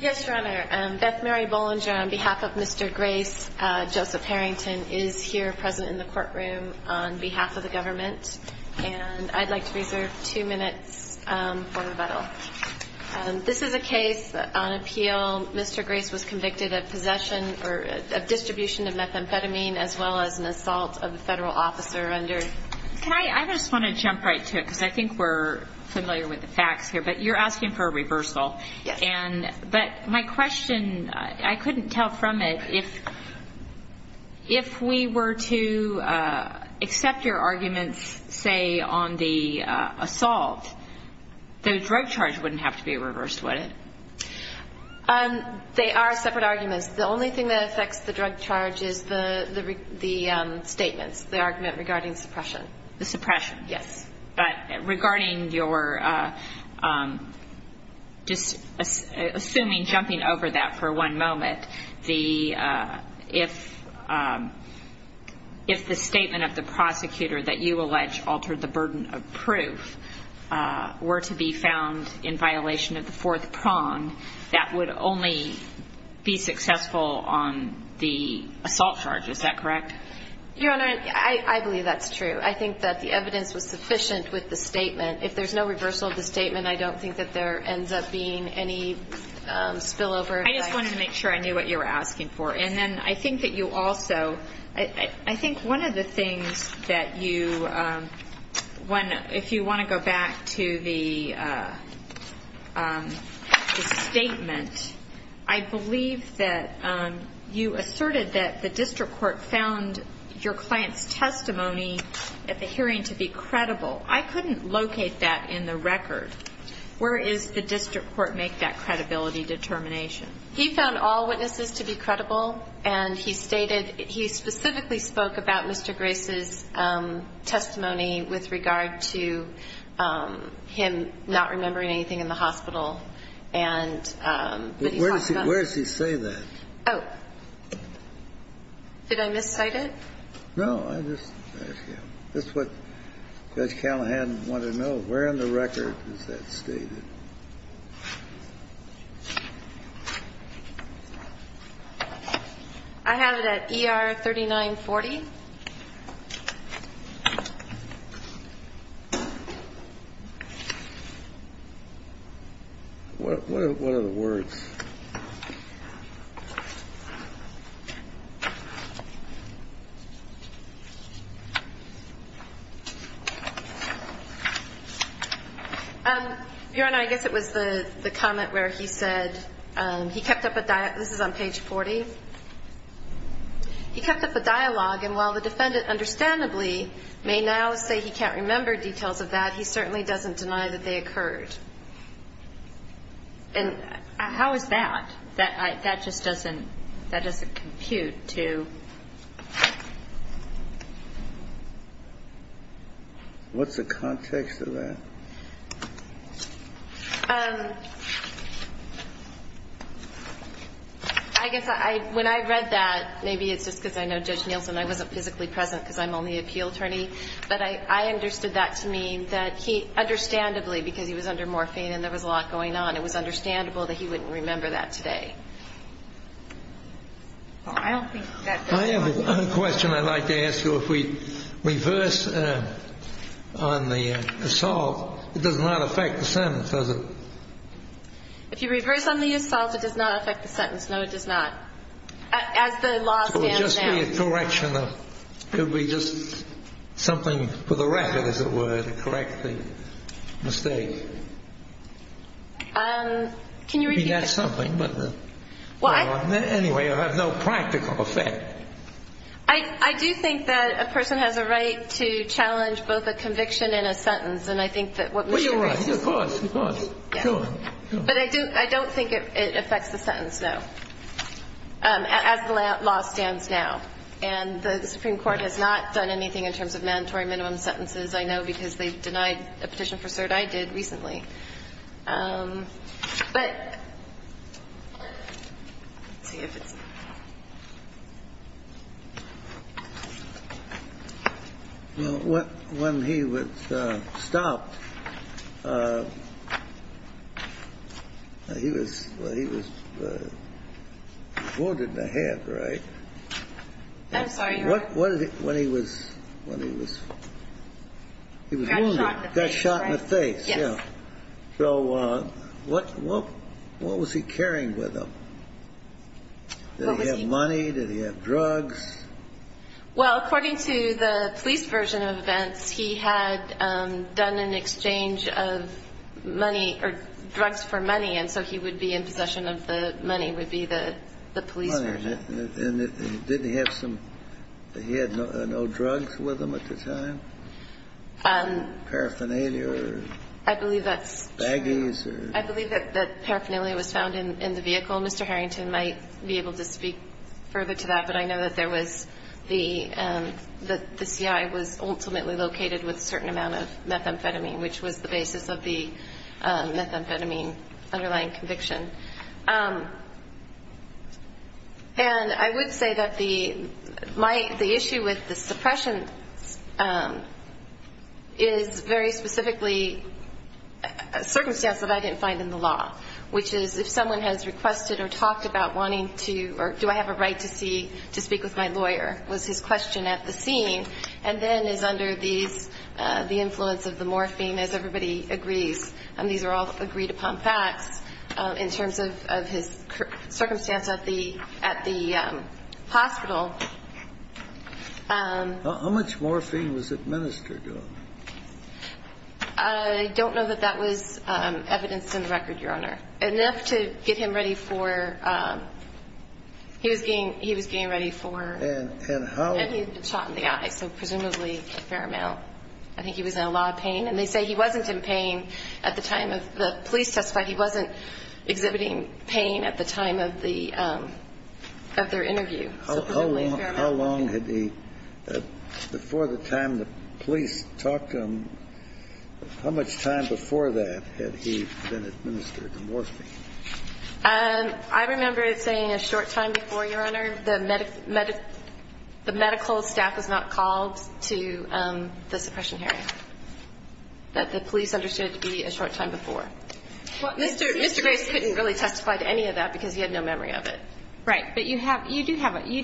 Yes, Your Honor. Beth Mary Bollinger, on behalf of Mr. Grace, Joseph Harrington, is here present in the courtroom on behalf of the government. And I'd like to reserve two minutes for rebuttal. This is a case on appeal. Mr. Grace was convicted of possession or distribution of methamphetamine as well as an assault of a federal officer under… I just want to jump right to it because I think we're familiar with the facts here. But you're asking for a reversal. But my question, I couldn't tell from it, if we were to accept your arguments, say, on the assault, the drug charge wouldn't have to be reversed, would it? They are separate arguments. The only thing that affects the drug charge is the statements, the argument regarding suppression. The suppression? Yes. But regarding your – just assuming, jumping over that for one moment, the – if the statement of the prosecutor that you allege altered the burden of proof were to be found in violation of the fourth prong, that would only be successful on the assault charge. Is that correct? Your Honor, I believe that's true. I think that the evidence was sufficient with the statement. If there's no reversal of the statement, I don't think that there ends up being any spillover. I just wanted to make sure I knew what you were asking for. And then I think that you also – I think one of the things that you – if you want to go back to the statement, I believe that you asserted that the district court found your client's testimony at the hearing to be credible. I couldn't locate that in the record. Where is the district court make that credibility determination? He found all witnesses to be credible, and he stated – he specifically spoke about Mr. Grace's testimony with regard to him not remembering anything in the hospital. And he talked about – But where does he say that? Oh. Did I miscite it? No. I just asked you. That's what Judge Callahan wanted to know. Where in the record is that stated? I have it at ER 3940. What are the words? Your Honor, I guess it was the comment where he said he kept up a – this is on page 40. He kept up a dialogue, and while the defendant understandably may now say he can't remember details of that, he certainly doesn't deny that they occurred. And how is that? That just doesn't – that doesn't compute to – What's the context of that? I guess I – when I read that, maybe it's just because I know Judge Nielsen, I wasn't physically present because I'm only appeal attorney. But I understood that to mean that he – understandably, because he was under morphine and there was a lot going on, it was understandable that he wouldn't remember that today. I don't think that – I have a question I'd like to ask you. If we reverse on the assault, it does not affect the sentence, does it? If you reverse on the assault, it does not affect the sentence. No, it does not. As the law stands now. It would just be a correction of – it would be just something for the record, as it were, to correct the mistake. Can you repeat that? Maybe that's something, but – Well, I – Anyway, it would have no practical effect. I do think that a person has a right to challenge both a conviction and a sentence, and I think that what Mr. – Well, you're right. Of course, of course. Sure, sure. But I don't think it affects the sentence, no, as the law stands now. And the Supreme Court has not done anything in terms of mandatory minimum sentences, I know, because they've denied a petition for cert I did recently. But – let's see if it's – Well, when he was stopped, he was wounded in the head, right? I'm sorry? What did he – when he was – he was wounded. Got shot in the face, right? Got shot in the face, yeah. Yes. So what was he carrying with him? What was he – Did he have money? Did he have drugs? Well, according to the police version of events, he had done an exchange of money – or drugs for money, and so he would be in possession of the money, would be the police version. And didn't he have some – he had no drugs with him at the time? Paraphernalia or – I believe that's – Baggies or – I believe that paraphernalia was found in the vehicle. Mr. Harrington might be able to speak further to that, but I know that there was the – that the CI was ultimately located with a certain amount of methamphetamine, which was the basis of the methamphetamine underlying conviction. And I would say that the – the issue with the suppression is very specifically a circumstance that I didn't find in the law, which is if someone has requested or talked about wanting to – to speak with my lawyer was his question at the scene and then is under these – the influence of the morphine, as everybody agrees. And these are all agreed-upon facts in terms of his circumstance at the – at the hospital. How much morphine was administered to him? I don't know that that was evidenced in the record, Your Honor. Enough to get him ready for – he was getting – he was getting ready for – And how – And he had been shot in the eye, so presumably a fair amount. I think he was in a lot of pain. And they say he wasn't in pain at the time of – the police testified he wasn't exhibiting pain at the time of the – of their interview, so presumably a fair amount. How long had he – before the time the police talked to him, how much time before that had he been administered morphine? I remember it saying a short time before, Your Honor. The medical – the medical staff was not called to the suppression hearing. That the police understood it to be a short time before. Well, Mr. Grace couldn't really testify to any of that because he had no memory of it. Right. But you have – you do have – okay,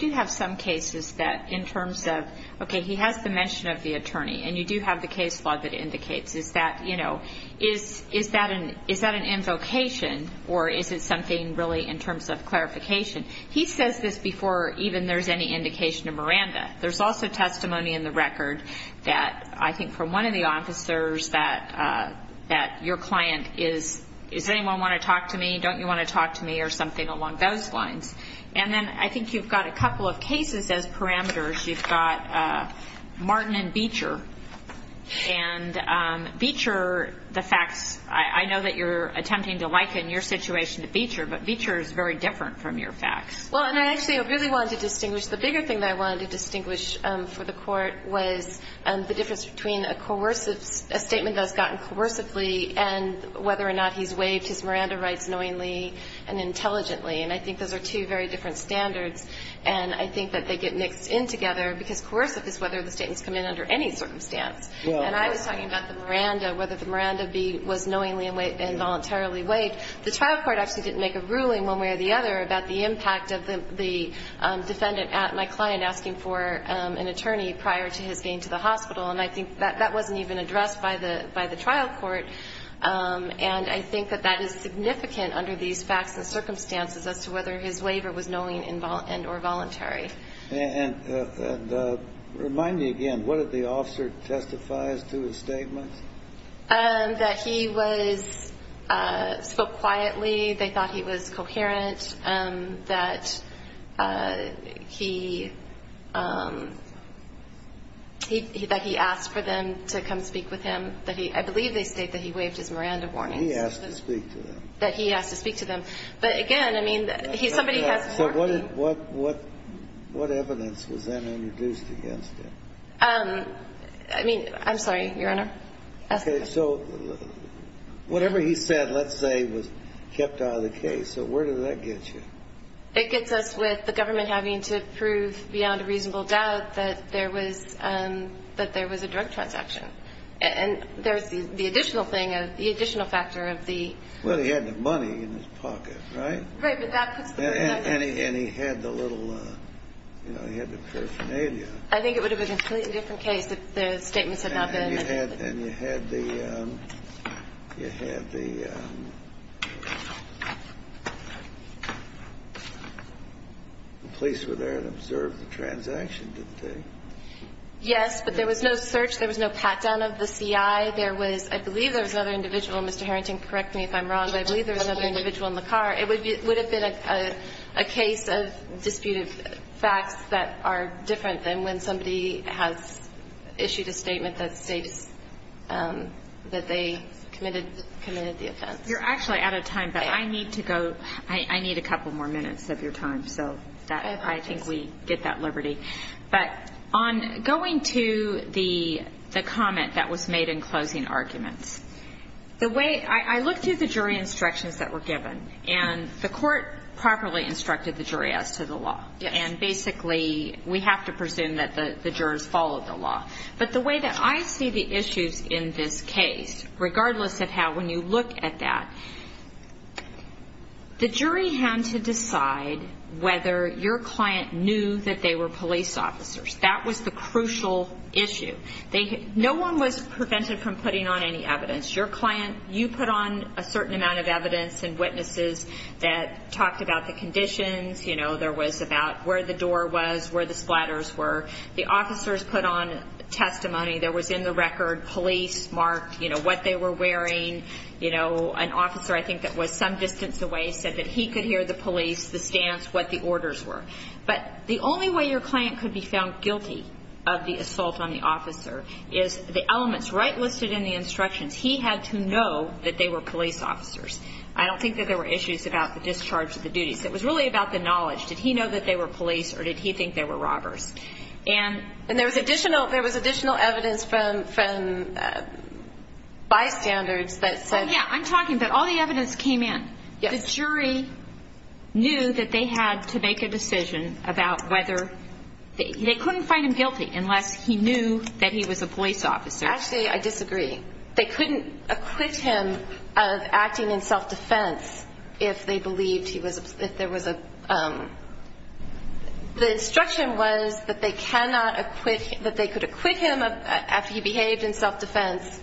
he has the mention of the attorney and you do have the case log that indicates. Is that, you know – is that an – is that an invocation or is it something really in terms of clarification? He says this before even there's any indication of Miranda. There's also testimony in the record that I think from one of the officers that your client is – does anyone want to talk to me? Don't you want to talk to me? Or something along those lines. And then I think you've got a couple of cases as parameters. You've got Martin and Beecher. And Beecher, the facts – I know that you're attempting to liken your situation to Beecher, but Beecher is very different from your facts. Well, and I actually really wanted to distinguish – the bigger thing that I wanted to distinguish for the court was the difference between a coercive – a statement that was gotten coercively and whether or not he's waived his Miranda rights knowingly and intelligently. And I think those are two very different standards. And I think that they get mixed in together because coercive is whether the statements come in under any circumstance. And I was talking about the Miranda – whether the Miranda was knowingly and voluntarily waived. The trial court actually didn't make a ruling one way or the other about the impact of the defendant at my client asking for an attorney prior to his being to the hospital. And I think that wasn't even addressed by the trial court. And I think that that is significant under these facts and circumstances as to whether his waiver was knowingly and or voluntary. And remind me again, what did the officer testify as to his statements? That he was – spoke quietly. They thought he was coherent. That he – that he asked for them to come speak with him. I believe they state that he waived his Miranda warnings. He asked to speak to them. That he asked to speak to them. But again, I mean, he – somebody has to talk to him. So what evidence was then introduced against him? I mean, I'm sorry, Your Honor. Okay, so whatever he said, let's say, was kept out of the case. So where did that get you? It gets us with the government having to prove beyond a reasonable doubt that there was that there was a drug transaction. And there's the additional thing of the additional factor of the Well, he had the money in his pocket, right? Right, but that puts the – And he had the little, you know, he had the paraphernalia. I think it would have been a completely different case if the statements had not been. And you had the you had the the police were there to observe the transaction, didn't they? Yes, but there was no search. There was no pat-down of the CI. There was – I believe there was another individual, Mr. Harrington, correct me if I'm wrong, but I believe there was another individual in the car. It would have been a case of disputed facts that are different than when somebody has issued a statement that states that they committed the offense. You're actually out of time, but I need to go I need a couple more minutes of your time, so I think we get that liberty. But on going to the comment that was made in the closing arguments, I looked through the jury instructions that were given, and the court properly instructed the jury as to the law. And basically, we have to presume that the jurors followed the law. But the way that I see the issues in this case, regardless of how, when you look at that, the jury had to decide whether your client knew that they were police officers. That was the crucial issue. No one was prevented from putting on any evidence. You put on a certain amount of evidence and witnesses that talked about the conditions. There was about where the door was, where the splatters were. The officers put on testimony. There was in the record police marked what they were wearing. An officer, I think, that was some distance away said that he could hear the police, the stance, what the orders were. But the only way your client could be found guilty of the assault on the officer is the elements right listed in the instructions. He had to know that they were police officers. I don't think that there were issues about the discharge of the duties. It was really about the knowledge. Did he know that they were police, or did he think they were robbers? And there was additional evidence from bystanders that said... I'm talking about all the evidence came in. The jury knew that they had to make a decision about whether... They couldn't find him guilty unless he knew that he was a police officer. Actually, I disagree. They couldn't acquit him of acting in self-defense if they believed he was... The instruction was that they cannot acquit him after he behaved in self-defense.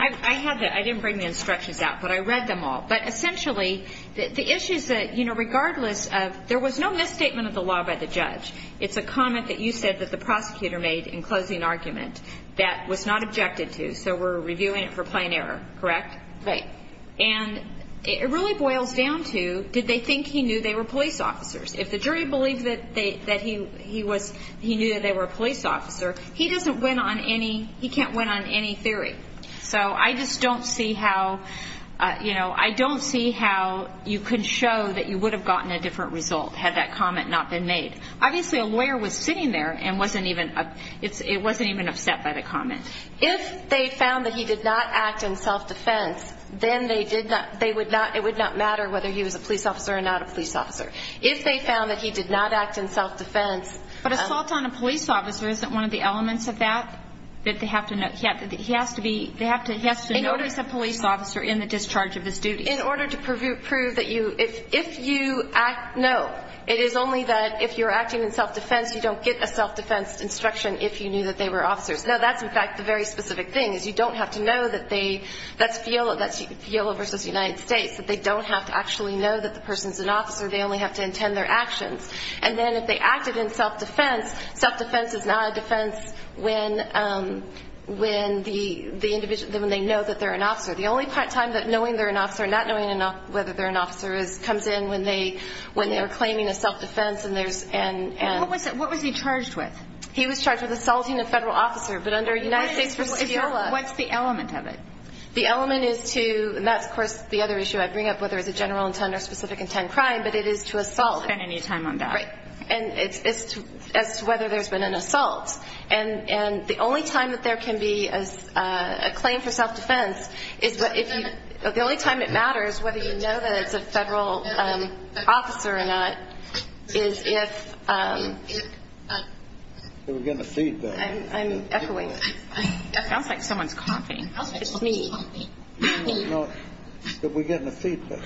I didn't bring the instructions out, but I read them all. Essentially, regardless of... There was no misstatement of the law by the judge. It's a comment that you said that the prosecutor made in closing argument that was not objected to, so we're reviewing it for plain error, correct? It really boils down to, did they think he knew they were police officers? If the jury believed he knew they were a police officer, he can't win on any theory. I just don't see how you could show that you would have gotten a different result had that comment not been made. Obviously, a lawyer was sitting there and wasn't even upset by the comment. If they found that he did not act in self-defense, then it would not matter whether he was a police officer or not a police officer. If they found that he did not act in self-defense... But assault on a police officer isn't one of the elements of that? That they have to know... He has to notice a police officer in the discharge of his duty. In order to prove that you... If you act, no. It is only that if you're acting in self-defense you don't get a self-defense instruction if you knew that they were officers. Now, that's in fact the very specific thing. You don't have to know that they... That's FIOLA v. United States. They don't have to actually know that the person's an officer. They only have to intend their actions. And then if they acted in self-defense, self-defense is not a defense when they know that they're an officer. The only time that knowing they're an officer and not knowing whether they're an officer comes in when they're claiming a self-defense and there's... What was he charged with? He was charged with assaulting a federal officer. But under United States v. FIOLA... What's the element of it? The element is to... I bring up whether it's a general intent or specific intent crime, but it is to assault. Right. As to whether there's been an assault. And the only time that there can be a claim for self-defense is the only time it matters whether you know that it's a federal officer or not is if... We're getting a feedback. I'm echoing. That sounds like someone's coughing. It's me. We're getting a feedback.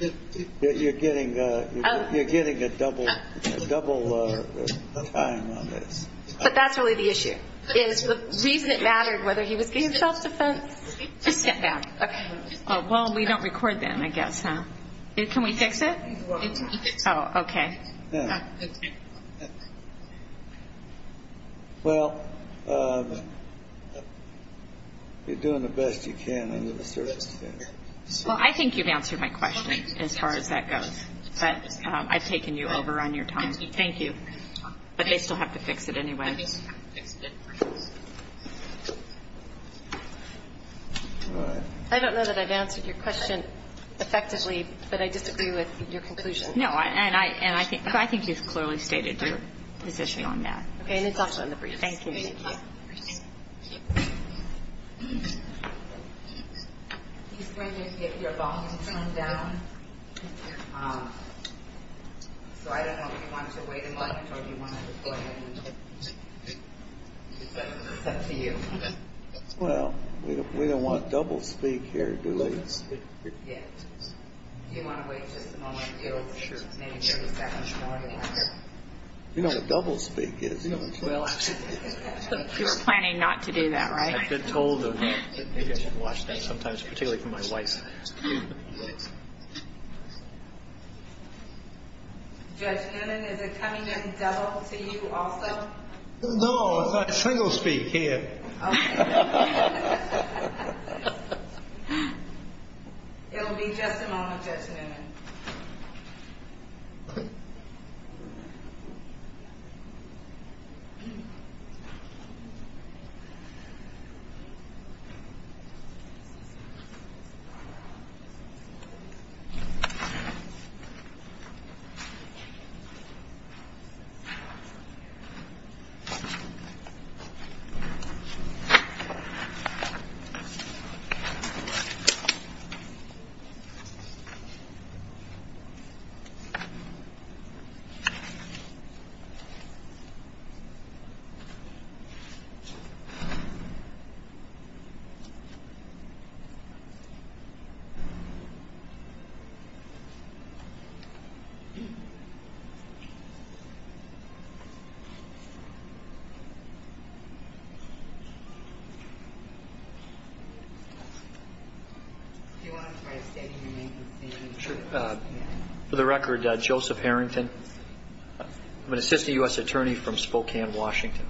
You're getting a double time on this. But that's really the issue is the reason it mattered whether he was getting self-defense. Well, we don't record then, I guess, huh? Can we fix it? Oh, okay. Well, you're doing the best you can. Well, I think you've answered my question as far as that goes. But I've taken you over on your time. Thank you. But they still have to fix it anyway. I don't know that I've answered your question effectively, but I disagree with your conclusion. No, and I think you've clearly stated your position on that. Okay, and it's also in the briefs. Thank you. He's going to get your volume turned down. So I don't know if you want to wait a moment or if you want to deploy and it's up to you. Well, we don't want double-speak here, do we? Yes. Do you want to wait just a moment? Sure. You know what double-speak is, don't you? You're planning not to do that, right? I've been told that maybe I should watch that sometimes, particularly for my wife. Judge Newman, is it coming in double to you also? No, it's like single-speak here. Okay. It'll be just a moment, Judge Newman. Okay. Thank you. For the record, Joseph Harrington. I'm an assistant U.S. attorney from Spokane, Washington.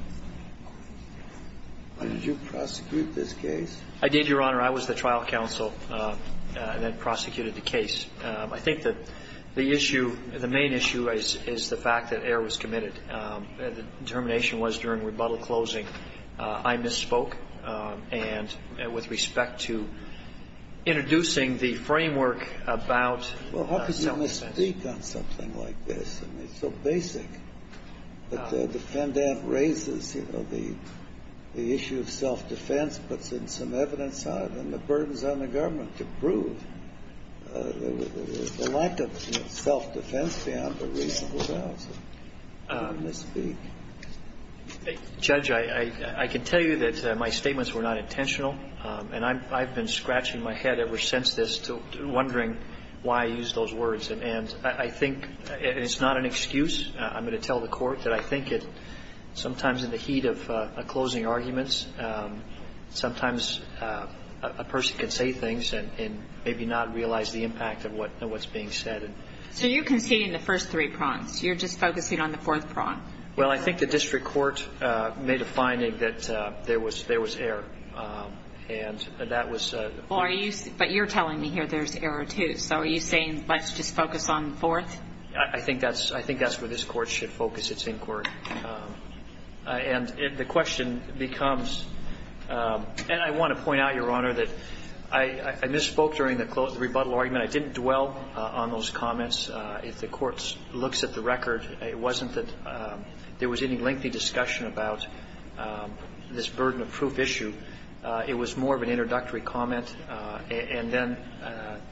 Did you prosecute this case? I did, Your Honor. I was the trial counsel that prosecuted the case. I think that the issue, the main issue is the fact that error was committed. The determination was during rebuttal closing I misspoke and with respect to introducing the framework about self-defense. Well, how could you misspeak on something like this? I mean, it's so basic. But the defendant raises the issue of self-defense, puts in some evidence on it and the burdens on the government to prove the lack of self-defense beyond the reasonable bounds of misspeak. Judge, I can tell you that my statements were not intentional, and I've been scratching my head ever since this wondering why I used those words and I think it's not an excuse. I'm going to tell the court that I think sometimes in the heat of closing arguments, sometimes a person can say things and maybe not realize the impact of what's being said. So you're conceding the first three prongs. You're just focusing on the fourth prong. Well, I think the district court made a finding that there was error. But you're telling me here there's error too, so are you saying let's just focus on the fourth? I think that's where this court should focus its inquiry. And the question becomes and I want to point out, Your Honor, that I misspoke during the rebuttal argument. I didn't dwell on those comments. If the court looks at the record, it wasn't that there was any lengthy discussion about this burden of proof issue. It was more of an introductory comment, and then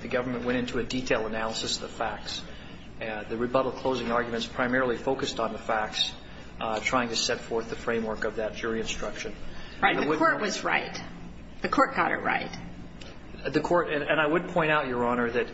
the government went into a detail analysis of the facts. The rebuttal closing arguments primarily focused on the facts, trying to set forth the framework of that jury instruction. Right, the court was right. The court got it right. And I would point out, Your Honor, that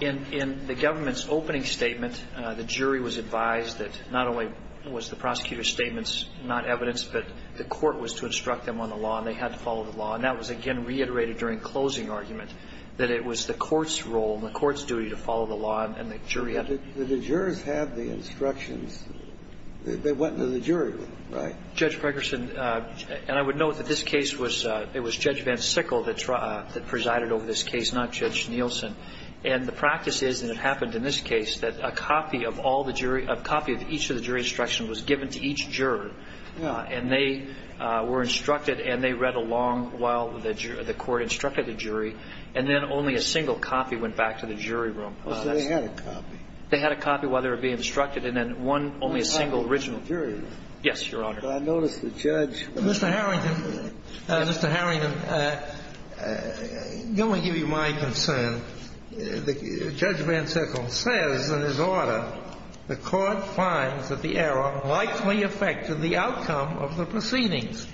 in the government's opening statement the jury was advised that not only was the prosecutor's statements not evidence, but the court was to instruct them on the law, and they had to follow the law. And that was, again, reiterated during closing argument, that it was the court's role and the court's duty to follow the law and the jury. But the jurors had the instructions that they went to the jury with, right? Judge Pregerson, and I would note that this case was Judge Van Sickle that presided over this case, not Judge Nielsen. And the practice is, and it happened in this case, that a copy of each of the jury instructions was given to each juror. And they were instructed, and they read along while the court instructed the jury, and then only a single copy went back to the jury room. So they had a copy? They had a copy while they were being instructed, and then one, only a single original. Yes, Your Honor. Mr. Harrington, let me give you my concern. Judge Van Sickle says in his order, the court finds that the error likely affected the outcome of the proceedings.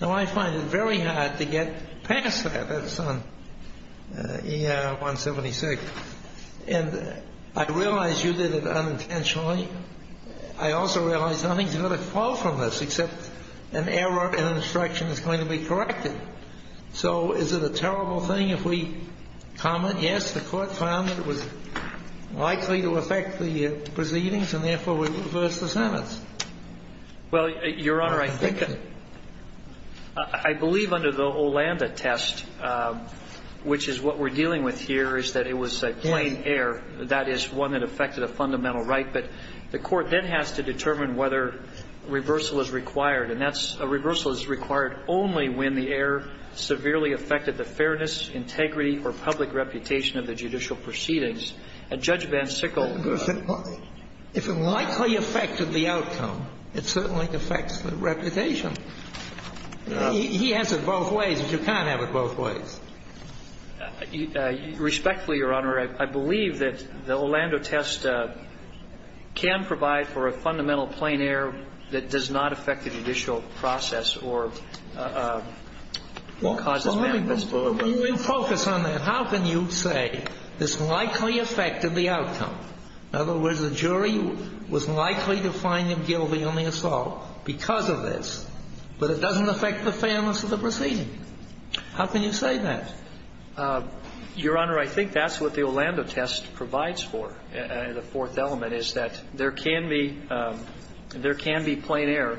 Now, I find it very hard to get past that. That's on ER 176. And I realize you did it unintentionally. I also realize nothing's going to fall from this, except an error in instruction is going to be corrected. So is it a terrible thing if we comment, yes, the court found that it was likely to affect the proceedings, and therefore we reverse the sentence? Well, Your Honor, I think I believe under the Olanda test, which is what we're dealing with here, is that it was a plain error. That is one that affected a fundamental right, but the court then has to determine whether reversal is required, and a reversal is required only when the error severely affected the fairness, integrity, or public reputation of the judicial proceedings. And Judge Van Sickle said, if it likely affected the outcome, it certainly affects the reputation. He has it both ways, but you can't have it both ways. Respectfully, Your Honor, I believe that the Olanda test can provide for a fundamental plain error that does not affect the judicial process or cause this kind of misbehavior. How can you say this likely affected the outcome? In other words, the jury was likely to find them guilty on the assault because of this, but it doesn't affect the fairness of the proceeding. How can you say that? Your Honor, I think that's what the Olanda test provides for, the fourth element, is that there can be there can be plain error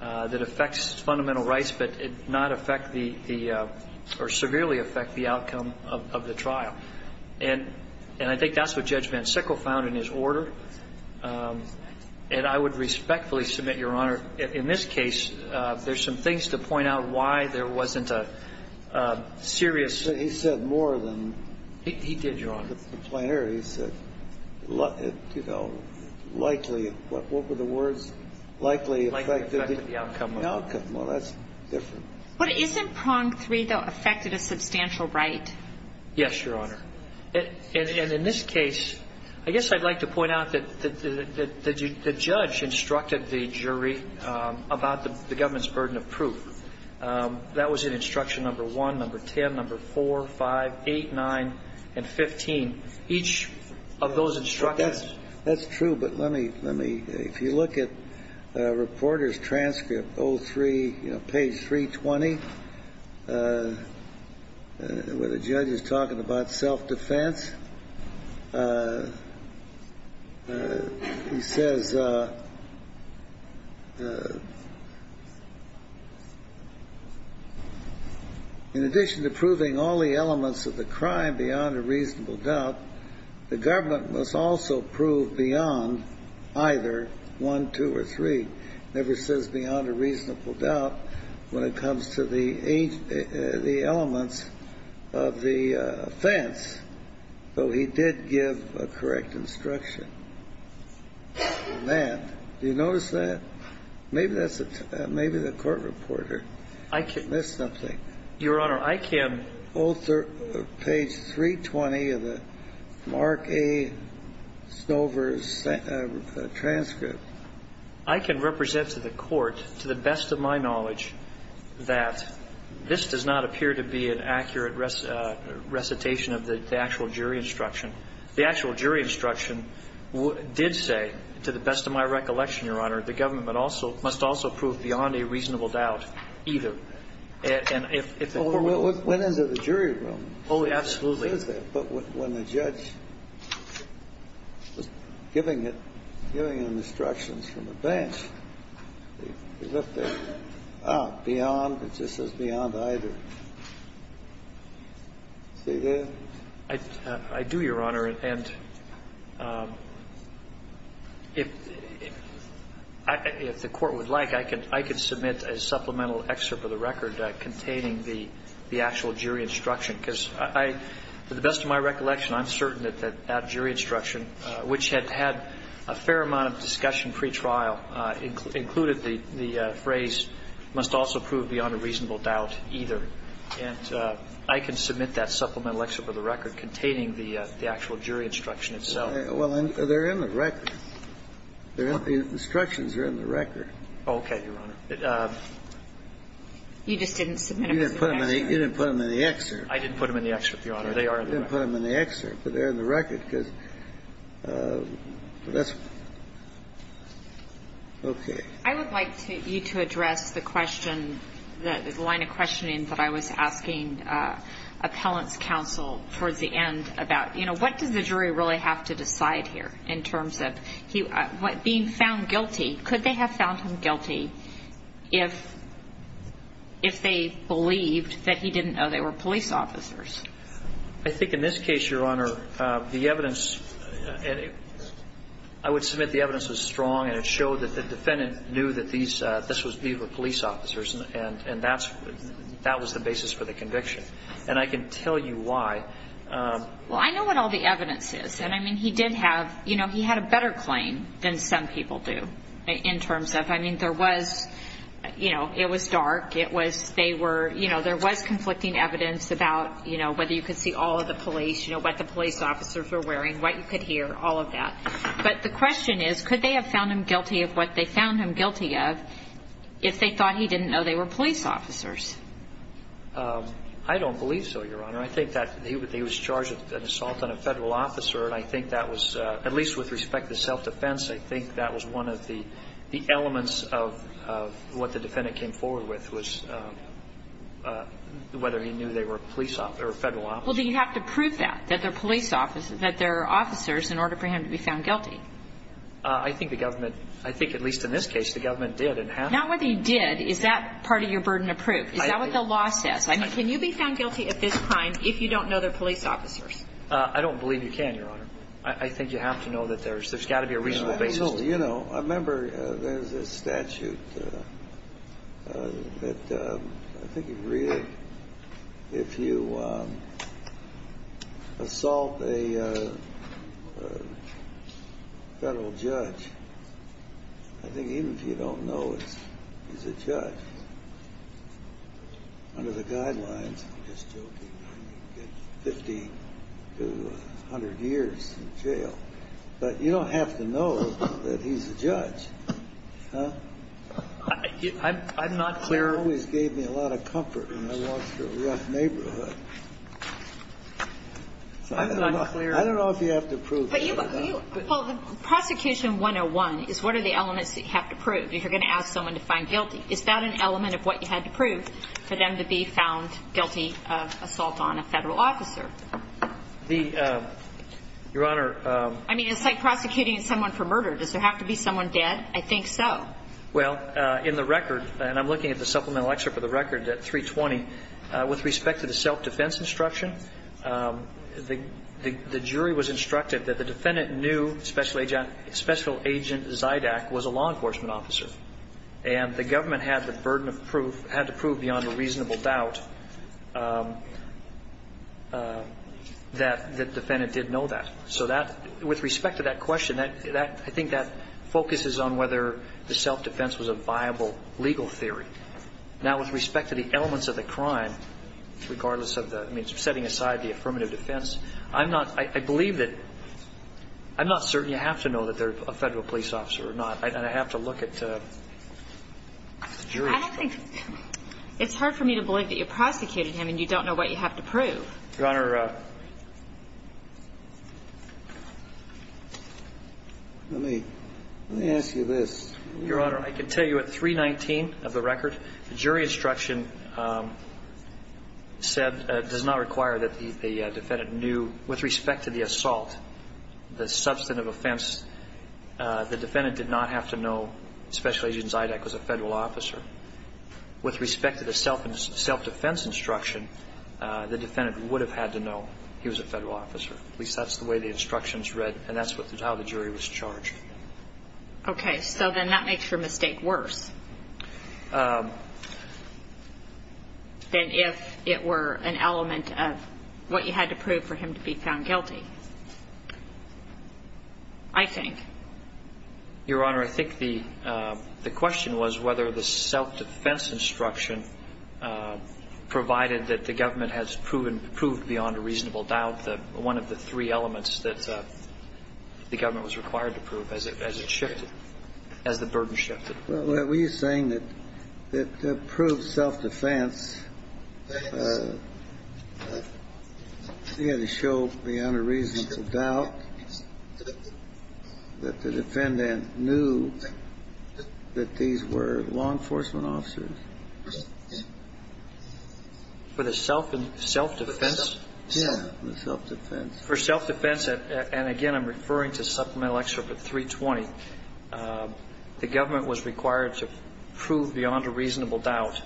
that affects fundamental rights, but not affect the or severely affect the outcome. And I think that's what Judge Van Sickle found in his order. And I would respectfully submit, Your Honor, in this case there's some things to point out why there wasn't a serious... He said more than He did, Your Honor. the plain error. He said likely, what were the words? Likely affected the outcome. Well, that's different. But isn't prong three, though, affected a substantial right? Yes, Your Honor. And in this case, I guess I'd like to point out that the judge instructed the jury about the government's burden of proof. That was in Instruction No. 1, No. 10, No. 4, 5, 8, 9 and 15. Each of those instructions... That's true, but let me... If you look at Reporter's transcript, page 320 where the judge is talking about self-defense he says in addition to proving all the elements of the crime beyond a reasonable doubt, the government must also prove beyond either 1, 2, or 3. It never says beyond a reasonable doubt when it comes to the elements of the offense. Though he did give a correct instruction. Do you notice that? Maybe that's maybe the court reporter missed something. Your Honor, I can... Page 320 of the Mark A. Snover's transcript. I can represent to the court, to the best of my knowledge, that this does not appear to be an accurate recitation of the actual jury instruction. The actual jury instruction did say, to the best of my recollection, Your Honor, the government must also prove beyond a reasonable doubt either. And if... It went into the jury room. Oh, absolutely. But when the judge was giving instructions from the bench, beyond, it just says beyond either. See there? I do, Your Honor, and if the court would like, I can submit a supplemental excerpt of the record containing the actual jury instruction because I, to the best of my recollection, I'm certain that that jury instruction, which had a fair amount of discussion pre-trial included the phrase, must also prove beyond a reasonable doubt either. And I can submit that supplemental excerpt of the record containing the actual jury instruction itself. Well, they're in the record. The instructions are in the record. Oh, okay, Your Honor. You just didn't submit them in the excerpt. You didn't put them in the excerpt. I didn't put them in the excerpt, Your Honor. They are in the record. I didn't put them in the excerpt, but they're in the record because that's okay. I would like you to address the question the line of questioning that I was asking appellant's counsel towards the end about what does the jury really have to decide here in terms of being found guilty. Could they have found him guilty if they believed that he didn't know they were police officers? I think in this case, Your Honor, the evidence I would submit the evidence was strong and it showed that the defendant knew that these were police officers and that was the basis for the conviction. And I can tell you why. Well, I know what all the evidence is. He had a better claim than some people do in terms of it was dark, there was conflicting evidence about whether you could see all of the police, what the police officers were wearing, what you could hear, all of that. But the question is, could they have found him guilty of what they found him guilty of if they thought he didn't know they were police officers? I don't believe so, Your Honor. I think that he was charged with an assault on a federal officer and I think that was, at least with respect to self-defense, I think that was one of the elements of what the defendant came forward with was whether he knew they were police officers, or federal officers. Well, do you have to prove that, that they're police officers, that they're officers in order for him to be found guilty? I think the government, I think at least in this case the government did. Not whether you did, is that part of your burden of proof? Is that what the law says? I mean, can you be found guilty at this time if you don't know they're police officers? I don't believe you can, Your Honor. I think you have to know that there's got to be a reasonable basis. You know, I remember there's a statute that I think you read if you assault a federal judge I think even if you don't know he's a judge under the guidelines I'm just joking 50 to 100 years in jail but you don't have to know that he's a judge I'm not clear It always gave me a lot of comfort when I walked through a rough neighborhood I'm not clear I don't know if you have to prove Prosecution 101 is what are the elements that you have to prove if you're going to ask someone to find guilty. Is that an element of what you had to prove for them to be found guilty of assault on a federal officer? Your Honor I mean, it's like prosecuting someone for murder. Does there have to be someone dead? I think so. Well, in the record, and I'm looking at the supplemental excerpt of the record at 320 with respect to the self-defense instruction the jury was instructed that the defendant knew Special Agent Zydak was a law enforcement officer and the government had the burden of proof, had to prove beyond a reasonable doubt that the defendant did know that With respect to that question I think that focuses on whether the self-defense was a viable legal theory Now with respect to the elements of the crime regardless of the setting aside the affirmative defense I believe that I'm not certain you have to know that they're a federal police officer or not and I have to look at the jury I don't think It's hard for me to believe that you prosecuted him and you don't know what you have to prove Your Honor Let me ask you this Your Honor, I can tell you at 319 of the record, the jury instruction said does not require that the defendant knew, with respect to the assault the substantive offense the defendant did not have to know Special Agent Zydak was a federal officer With respect to the self-defense instruction, the defendant would have had to know he was a federal officer At least that's the way the instructions read and that's how the jury was charged Okay, so then that makes your mistake worse than if it were an element of what you had to prove for him to be found guilty I think Your Honor, I think the question was whether the self-defense instruction provided that the government has proven beyond a reasonable doubt one of the three elements that the government was required to prove as the burden shifted Were you saying that to prove self-defense you had to show beyond a reasonable doubt that the defendant knew that these were law enforcement officers For the self-defense? Yeah, the self-defense For self-defense, and again I'm referring to Supplemental Excerpt 320 the government was required to prove beyond a reasonable doubt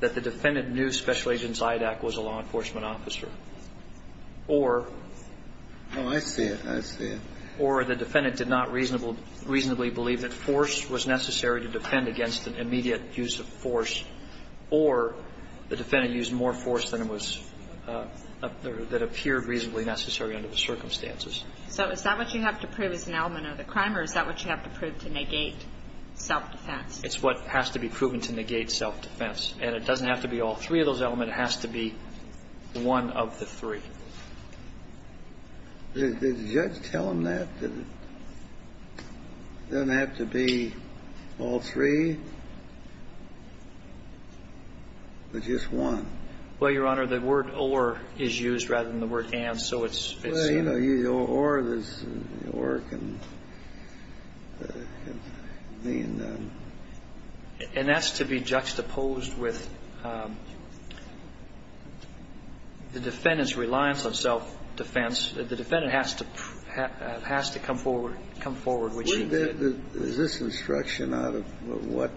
that the defendant knew Special Agent Zydak was a law enforcement officer or Oh, I see it or the defendant did not reasonably believe that force was necessary to defend against an immediate use of force or the defendant used more force than it was that appeared reasonably necessary under the circumstances So is that what you have to prove as an element of the crime or is that what you have to prove to negate self-defense? It's what has to be proven to negate self-defense and it doesn't have to be all three of those elements but it has to be one of the three Did the judge tell him that that it doesn't have to be all three but just one? Well, Your Honor, the word or is used rather than the word and so it's Well, you know, or can mean And that's to be juxtaposed with the defendant's reliance on self-defense the defendant has to come forward Is this instruction out of what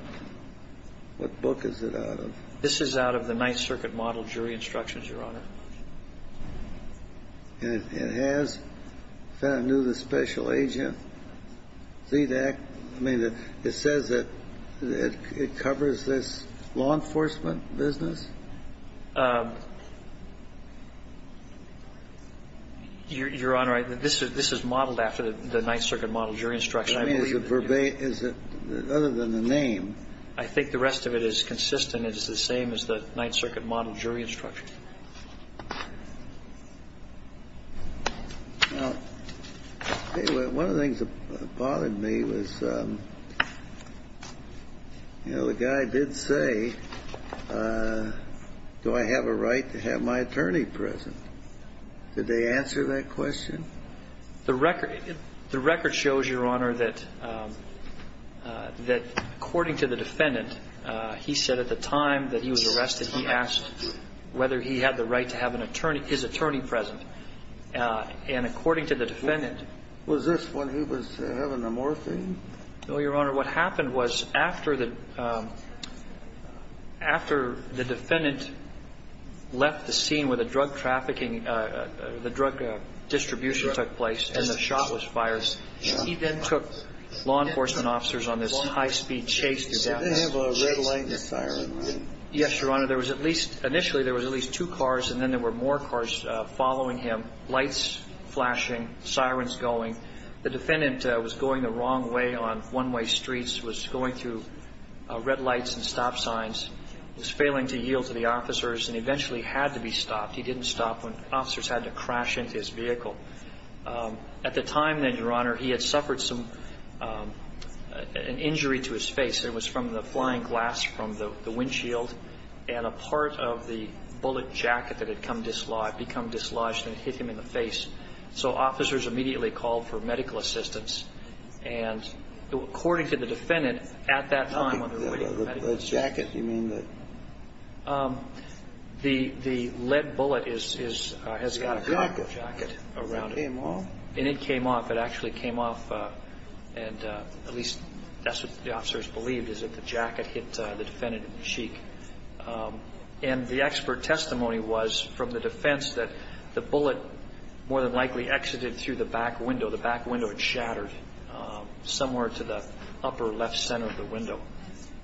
book is it out of? This is out of the Ninth Circuit Model Jury Instructions, Your Honor It has I knew the special agent Zydak it says that it covers this law enforcement business Your Honor, this is modeled after the Ninth Circuit Model Jury Instructions I believe other than the name I think the rest of it is consistent it is the same as the Ninth Circuit Model Jury Instructions One of the things that bothered me was you know, the guy did say do I have a right to have my attorney present? Did they answer that question? The record shows, Your Honor that according to the defendant he said at the time that he was arrested he asked whether he had the right to have his attorney present and according to the defendant Was this when he was having the morphine? No, Your Honor, what happened was after the defendant left the scene where the drug trafficking the drug distribution took place and the shotless fires he then took law enforcement officers on this high speed chase Did they have a red light and a siren? Yes, Your Honor, there was at least initially there was at least two cars and then there were more cars following him lights flashing, sirens going The defendant was going the wrong way on one-way streets was going through red lights and stop signs was failing to yield to the officers and eventually had to be stopped. He didn't stop when officers had to crash into his vehicle At the time then, Your Honor he had suffered an injury to his face it was from the flying glass from the windshield and a part of the bullet jacket that had become dislodged and hit him in the face so officers immediately called for medical assistance and according to the defendant at that time The jacket? The lead bullet has got a copper jacket and it came off and at least that's what the officers believed is that the jacket hit the defendant in the cheek and the expert testimony was from the defense that the bullet more than likely exited through the back window the back window had shattered somewhere to the upper left center of the window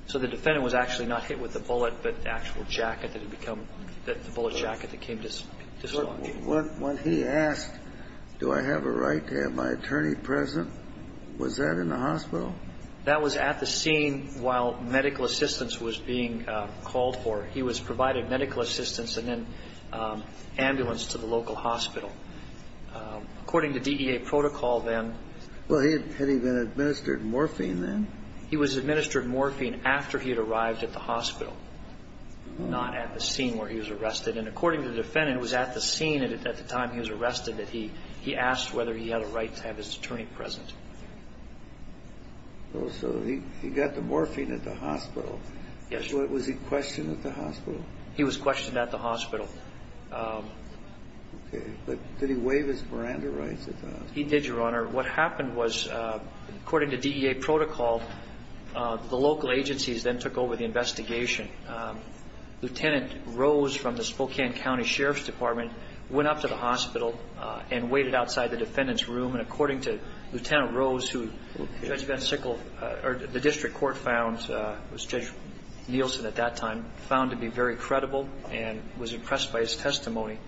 so the defendant was actually not hit with the bullet but the bullet jacket that came dislodging When he asked Do I have a right to have my attorney present? Was that in the hospital? That was at the scene while medical assistance was being called for. He was provided medical assistance and then ambulance to the local hospital According to DEA protocol then Had he been administered morphine then? He was administered morphine after he had arrived at the hospital not at the scene where he was arrested and according to the defendant it was at the scene at the time he was arrested that he asked whether he had a right to have his attorney present So he got the morphine at the hospital Yes Was he questioned at the hospital? He was questioned at the hospital Did he waive his Miranda rights? He did Your Honor What happened was according to DEA protocol the local agencies then took over the investigation Lieutenant Rose from the Spokane County Sheriff's Department went up to the hospital and waited outside the defendant's room and according to Lieutenant Rose Judge Van Sickle or the district court found Judge Nielsen at that time found him to be very credible and was impressed by his testimony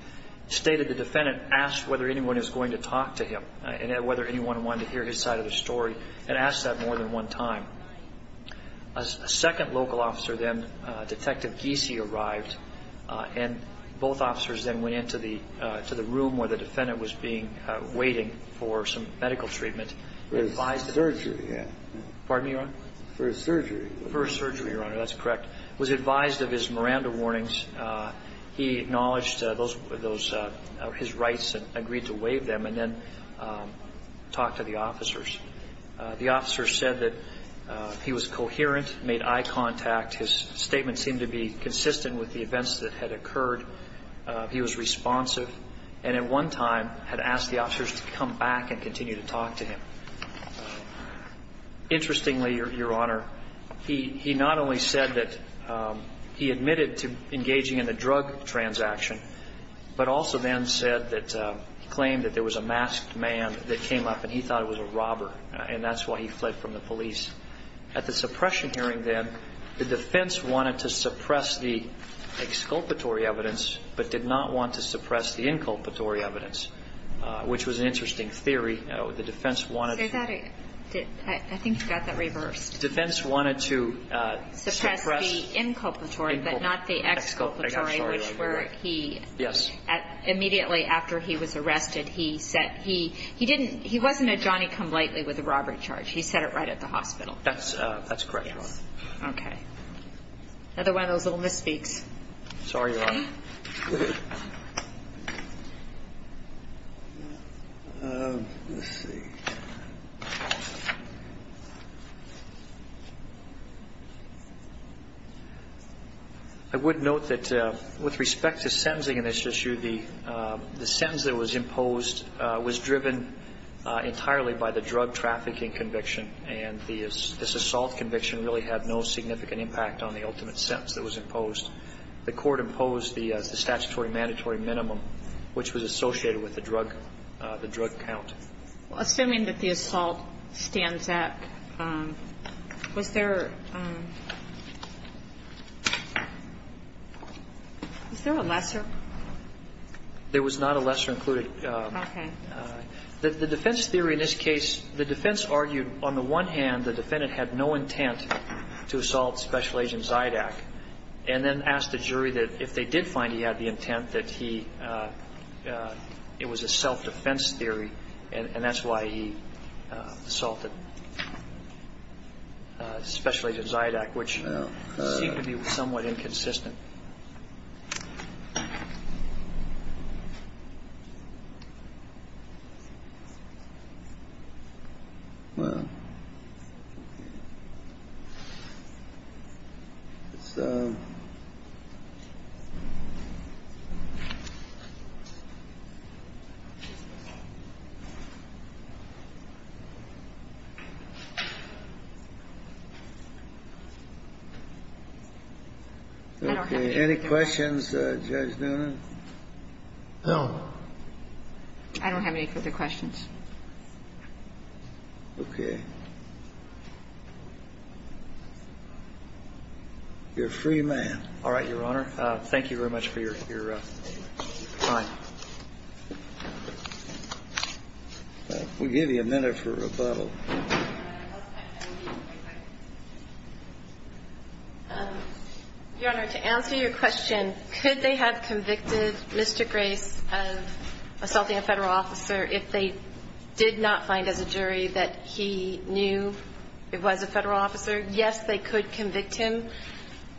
stated the defendant asked whether anyone was going to talk to him and whether anyone wanted to hear his side of the story and asked that more than one time A second local officer then, Detective Giese, arrived and both officers then went into the room where the defendant was waiting for some medical treatment For his surgery For his surgery That's correct He was advised of his Miranda warnings He acknowledged his rights and agreed to waive them and then talked to the officers The officers said that he was coherent, made eye contact his statements seemed to be consistent with the events that had occurred he was responsive and at one time had asked the officers to come back and continue to talk to him Interestingly your honor he not only said that he admitted to engaging in a drug transaction but also then said claimed that there was a masked man that came up and he thought it was a robber and that's why he fled from the police At the suppression hearing then the defense wanted to suppress the exculpatory evidence but did not want to suppress the inculpatory evidence which was an interesting theory I think you got that reversed The defense wanted to suppress the inculpatory but not the exculpatory which where he immediately after he was arrested he said he wasn't a Johnny come lightly with a robbery charge That's correct Another one of those little misspeaks Sorry your honor Let's see I would note that with respect to sentencing in this issue the sentence that was imposed was driven entirely by the drug trafficking conviction and this assault conviction really had no significant impact on the ultimate sentence that was imposed The court imposed the statutory and mandatory minimum which was associated with the drug count Assuming that the assault stands at Was there Was there a lesser There was not a lesser included The defense theory in this case the defense argued on the one hand the defendant had no intent to assault special agent Zydak and then asked the jury if they did find he had the intent that he it was a self defense theory and that's why he assaulted special agent Zydak which seemed to be somewhat inconsistent Wow So Any questions Judge Noonan No I don't have any further questions Okay You're a free man Alright Your Honor Thank you very much for your time We'll give you a minute for rebuttal Your Honor To answer your question Could they have convicted Mr. Grace of assaulting a federal officer if they did not find as a jury that he had the intent if they knew it was a federal officer yes they could convict him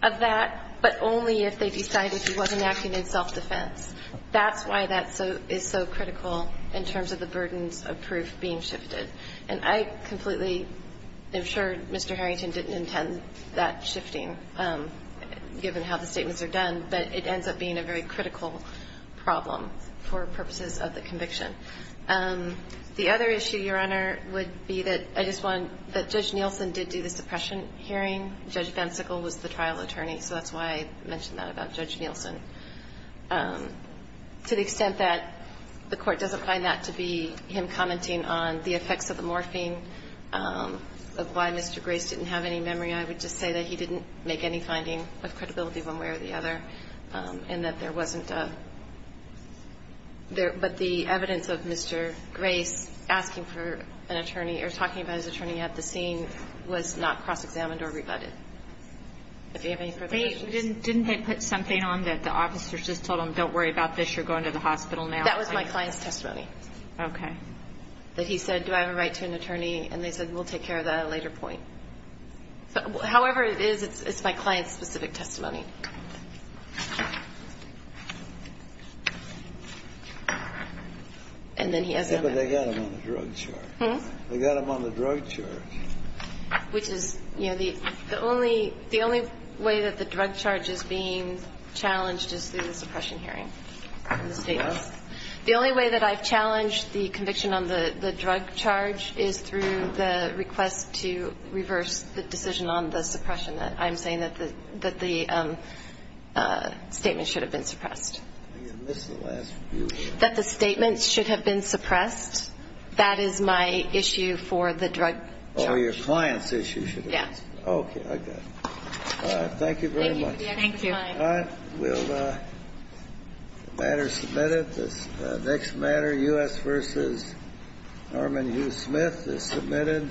of that but only if they decided he wasn't acting in self defense that's why that is so critical in terms of the burdens of proof being shifted and I completely am sure Mr. Harrington didn't intend that shifting given how the statements are done but it ends up being a very critical problem for purposes of the conviction the other issue Your Honor would be that Judge Nielsen did do the suppression hearing Judge Bensicle was the trial attorney so that's why I mentioned that about Judge Nielsen to the extent that the court doesn't find that to be him commenting on the effects of the morphing of why Mr. Grace didn't have any memory I would just say that he didn't make any finding with credibility one way or the other and that there wasn't but the evidence of Mr. Grace asking for an attorney or talking about his attorney at the scene was not cross examined or rebutted if you have any further questions didn't they put something on that the officers just told him don't worry about this you're going to the hospital now that was my client's testimony that he said do I have a right to an attorney and they said we'll take care of that at a later point however it is it's my client's specific testimony but they got him on the drug charge they got him on the drug charge which is the only way that the drug charge is being challenged is through the suppression hearing the only way that I've challenged the conviction on the drug charge is through the request to reverse the decision on the suppression that the statement should have been suppressed that the statement should have been suppressed that is my issue for the drug charge oh your client's issue should have been suppressed thank you very much thank you the matter is submitted the next matter U.S. v. Norman Hugh Smith the matter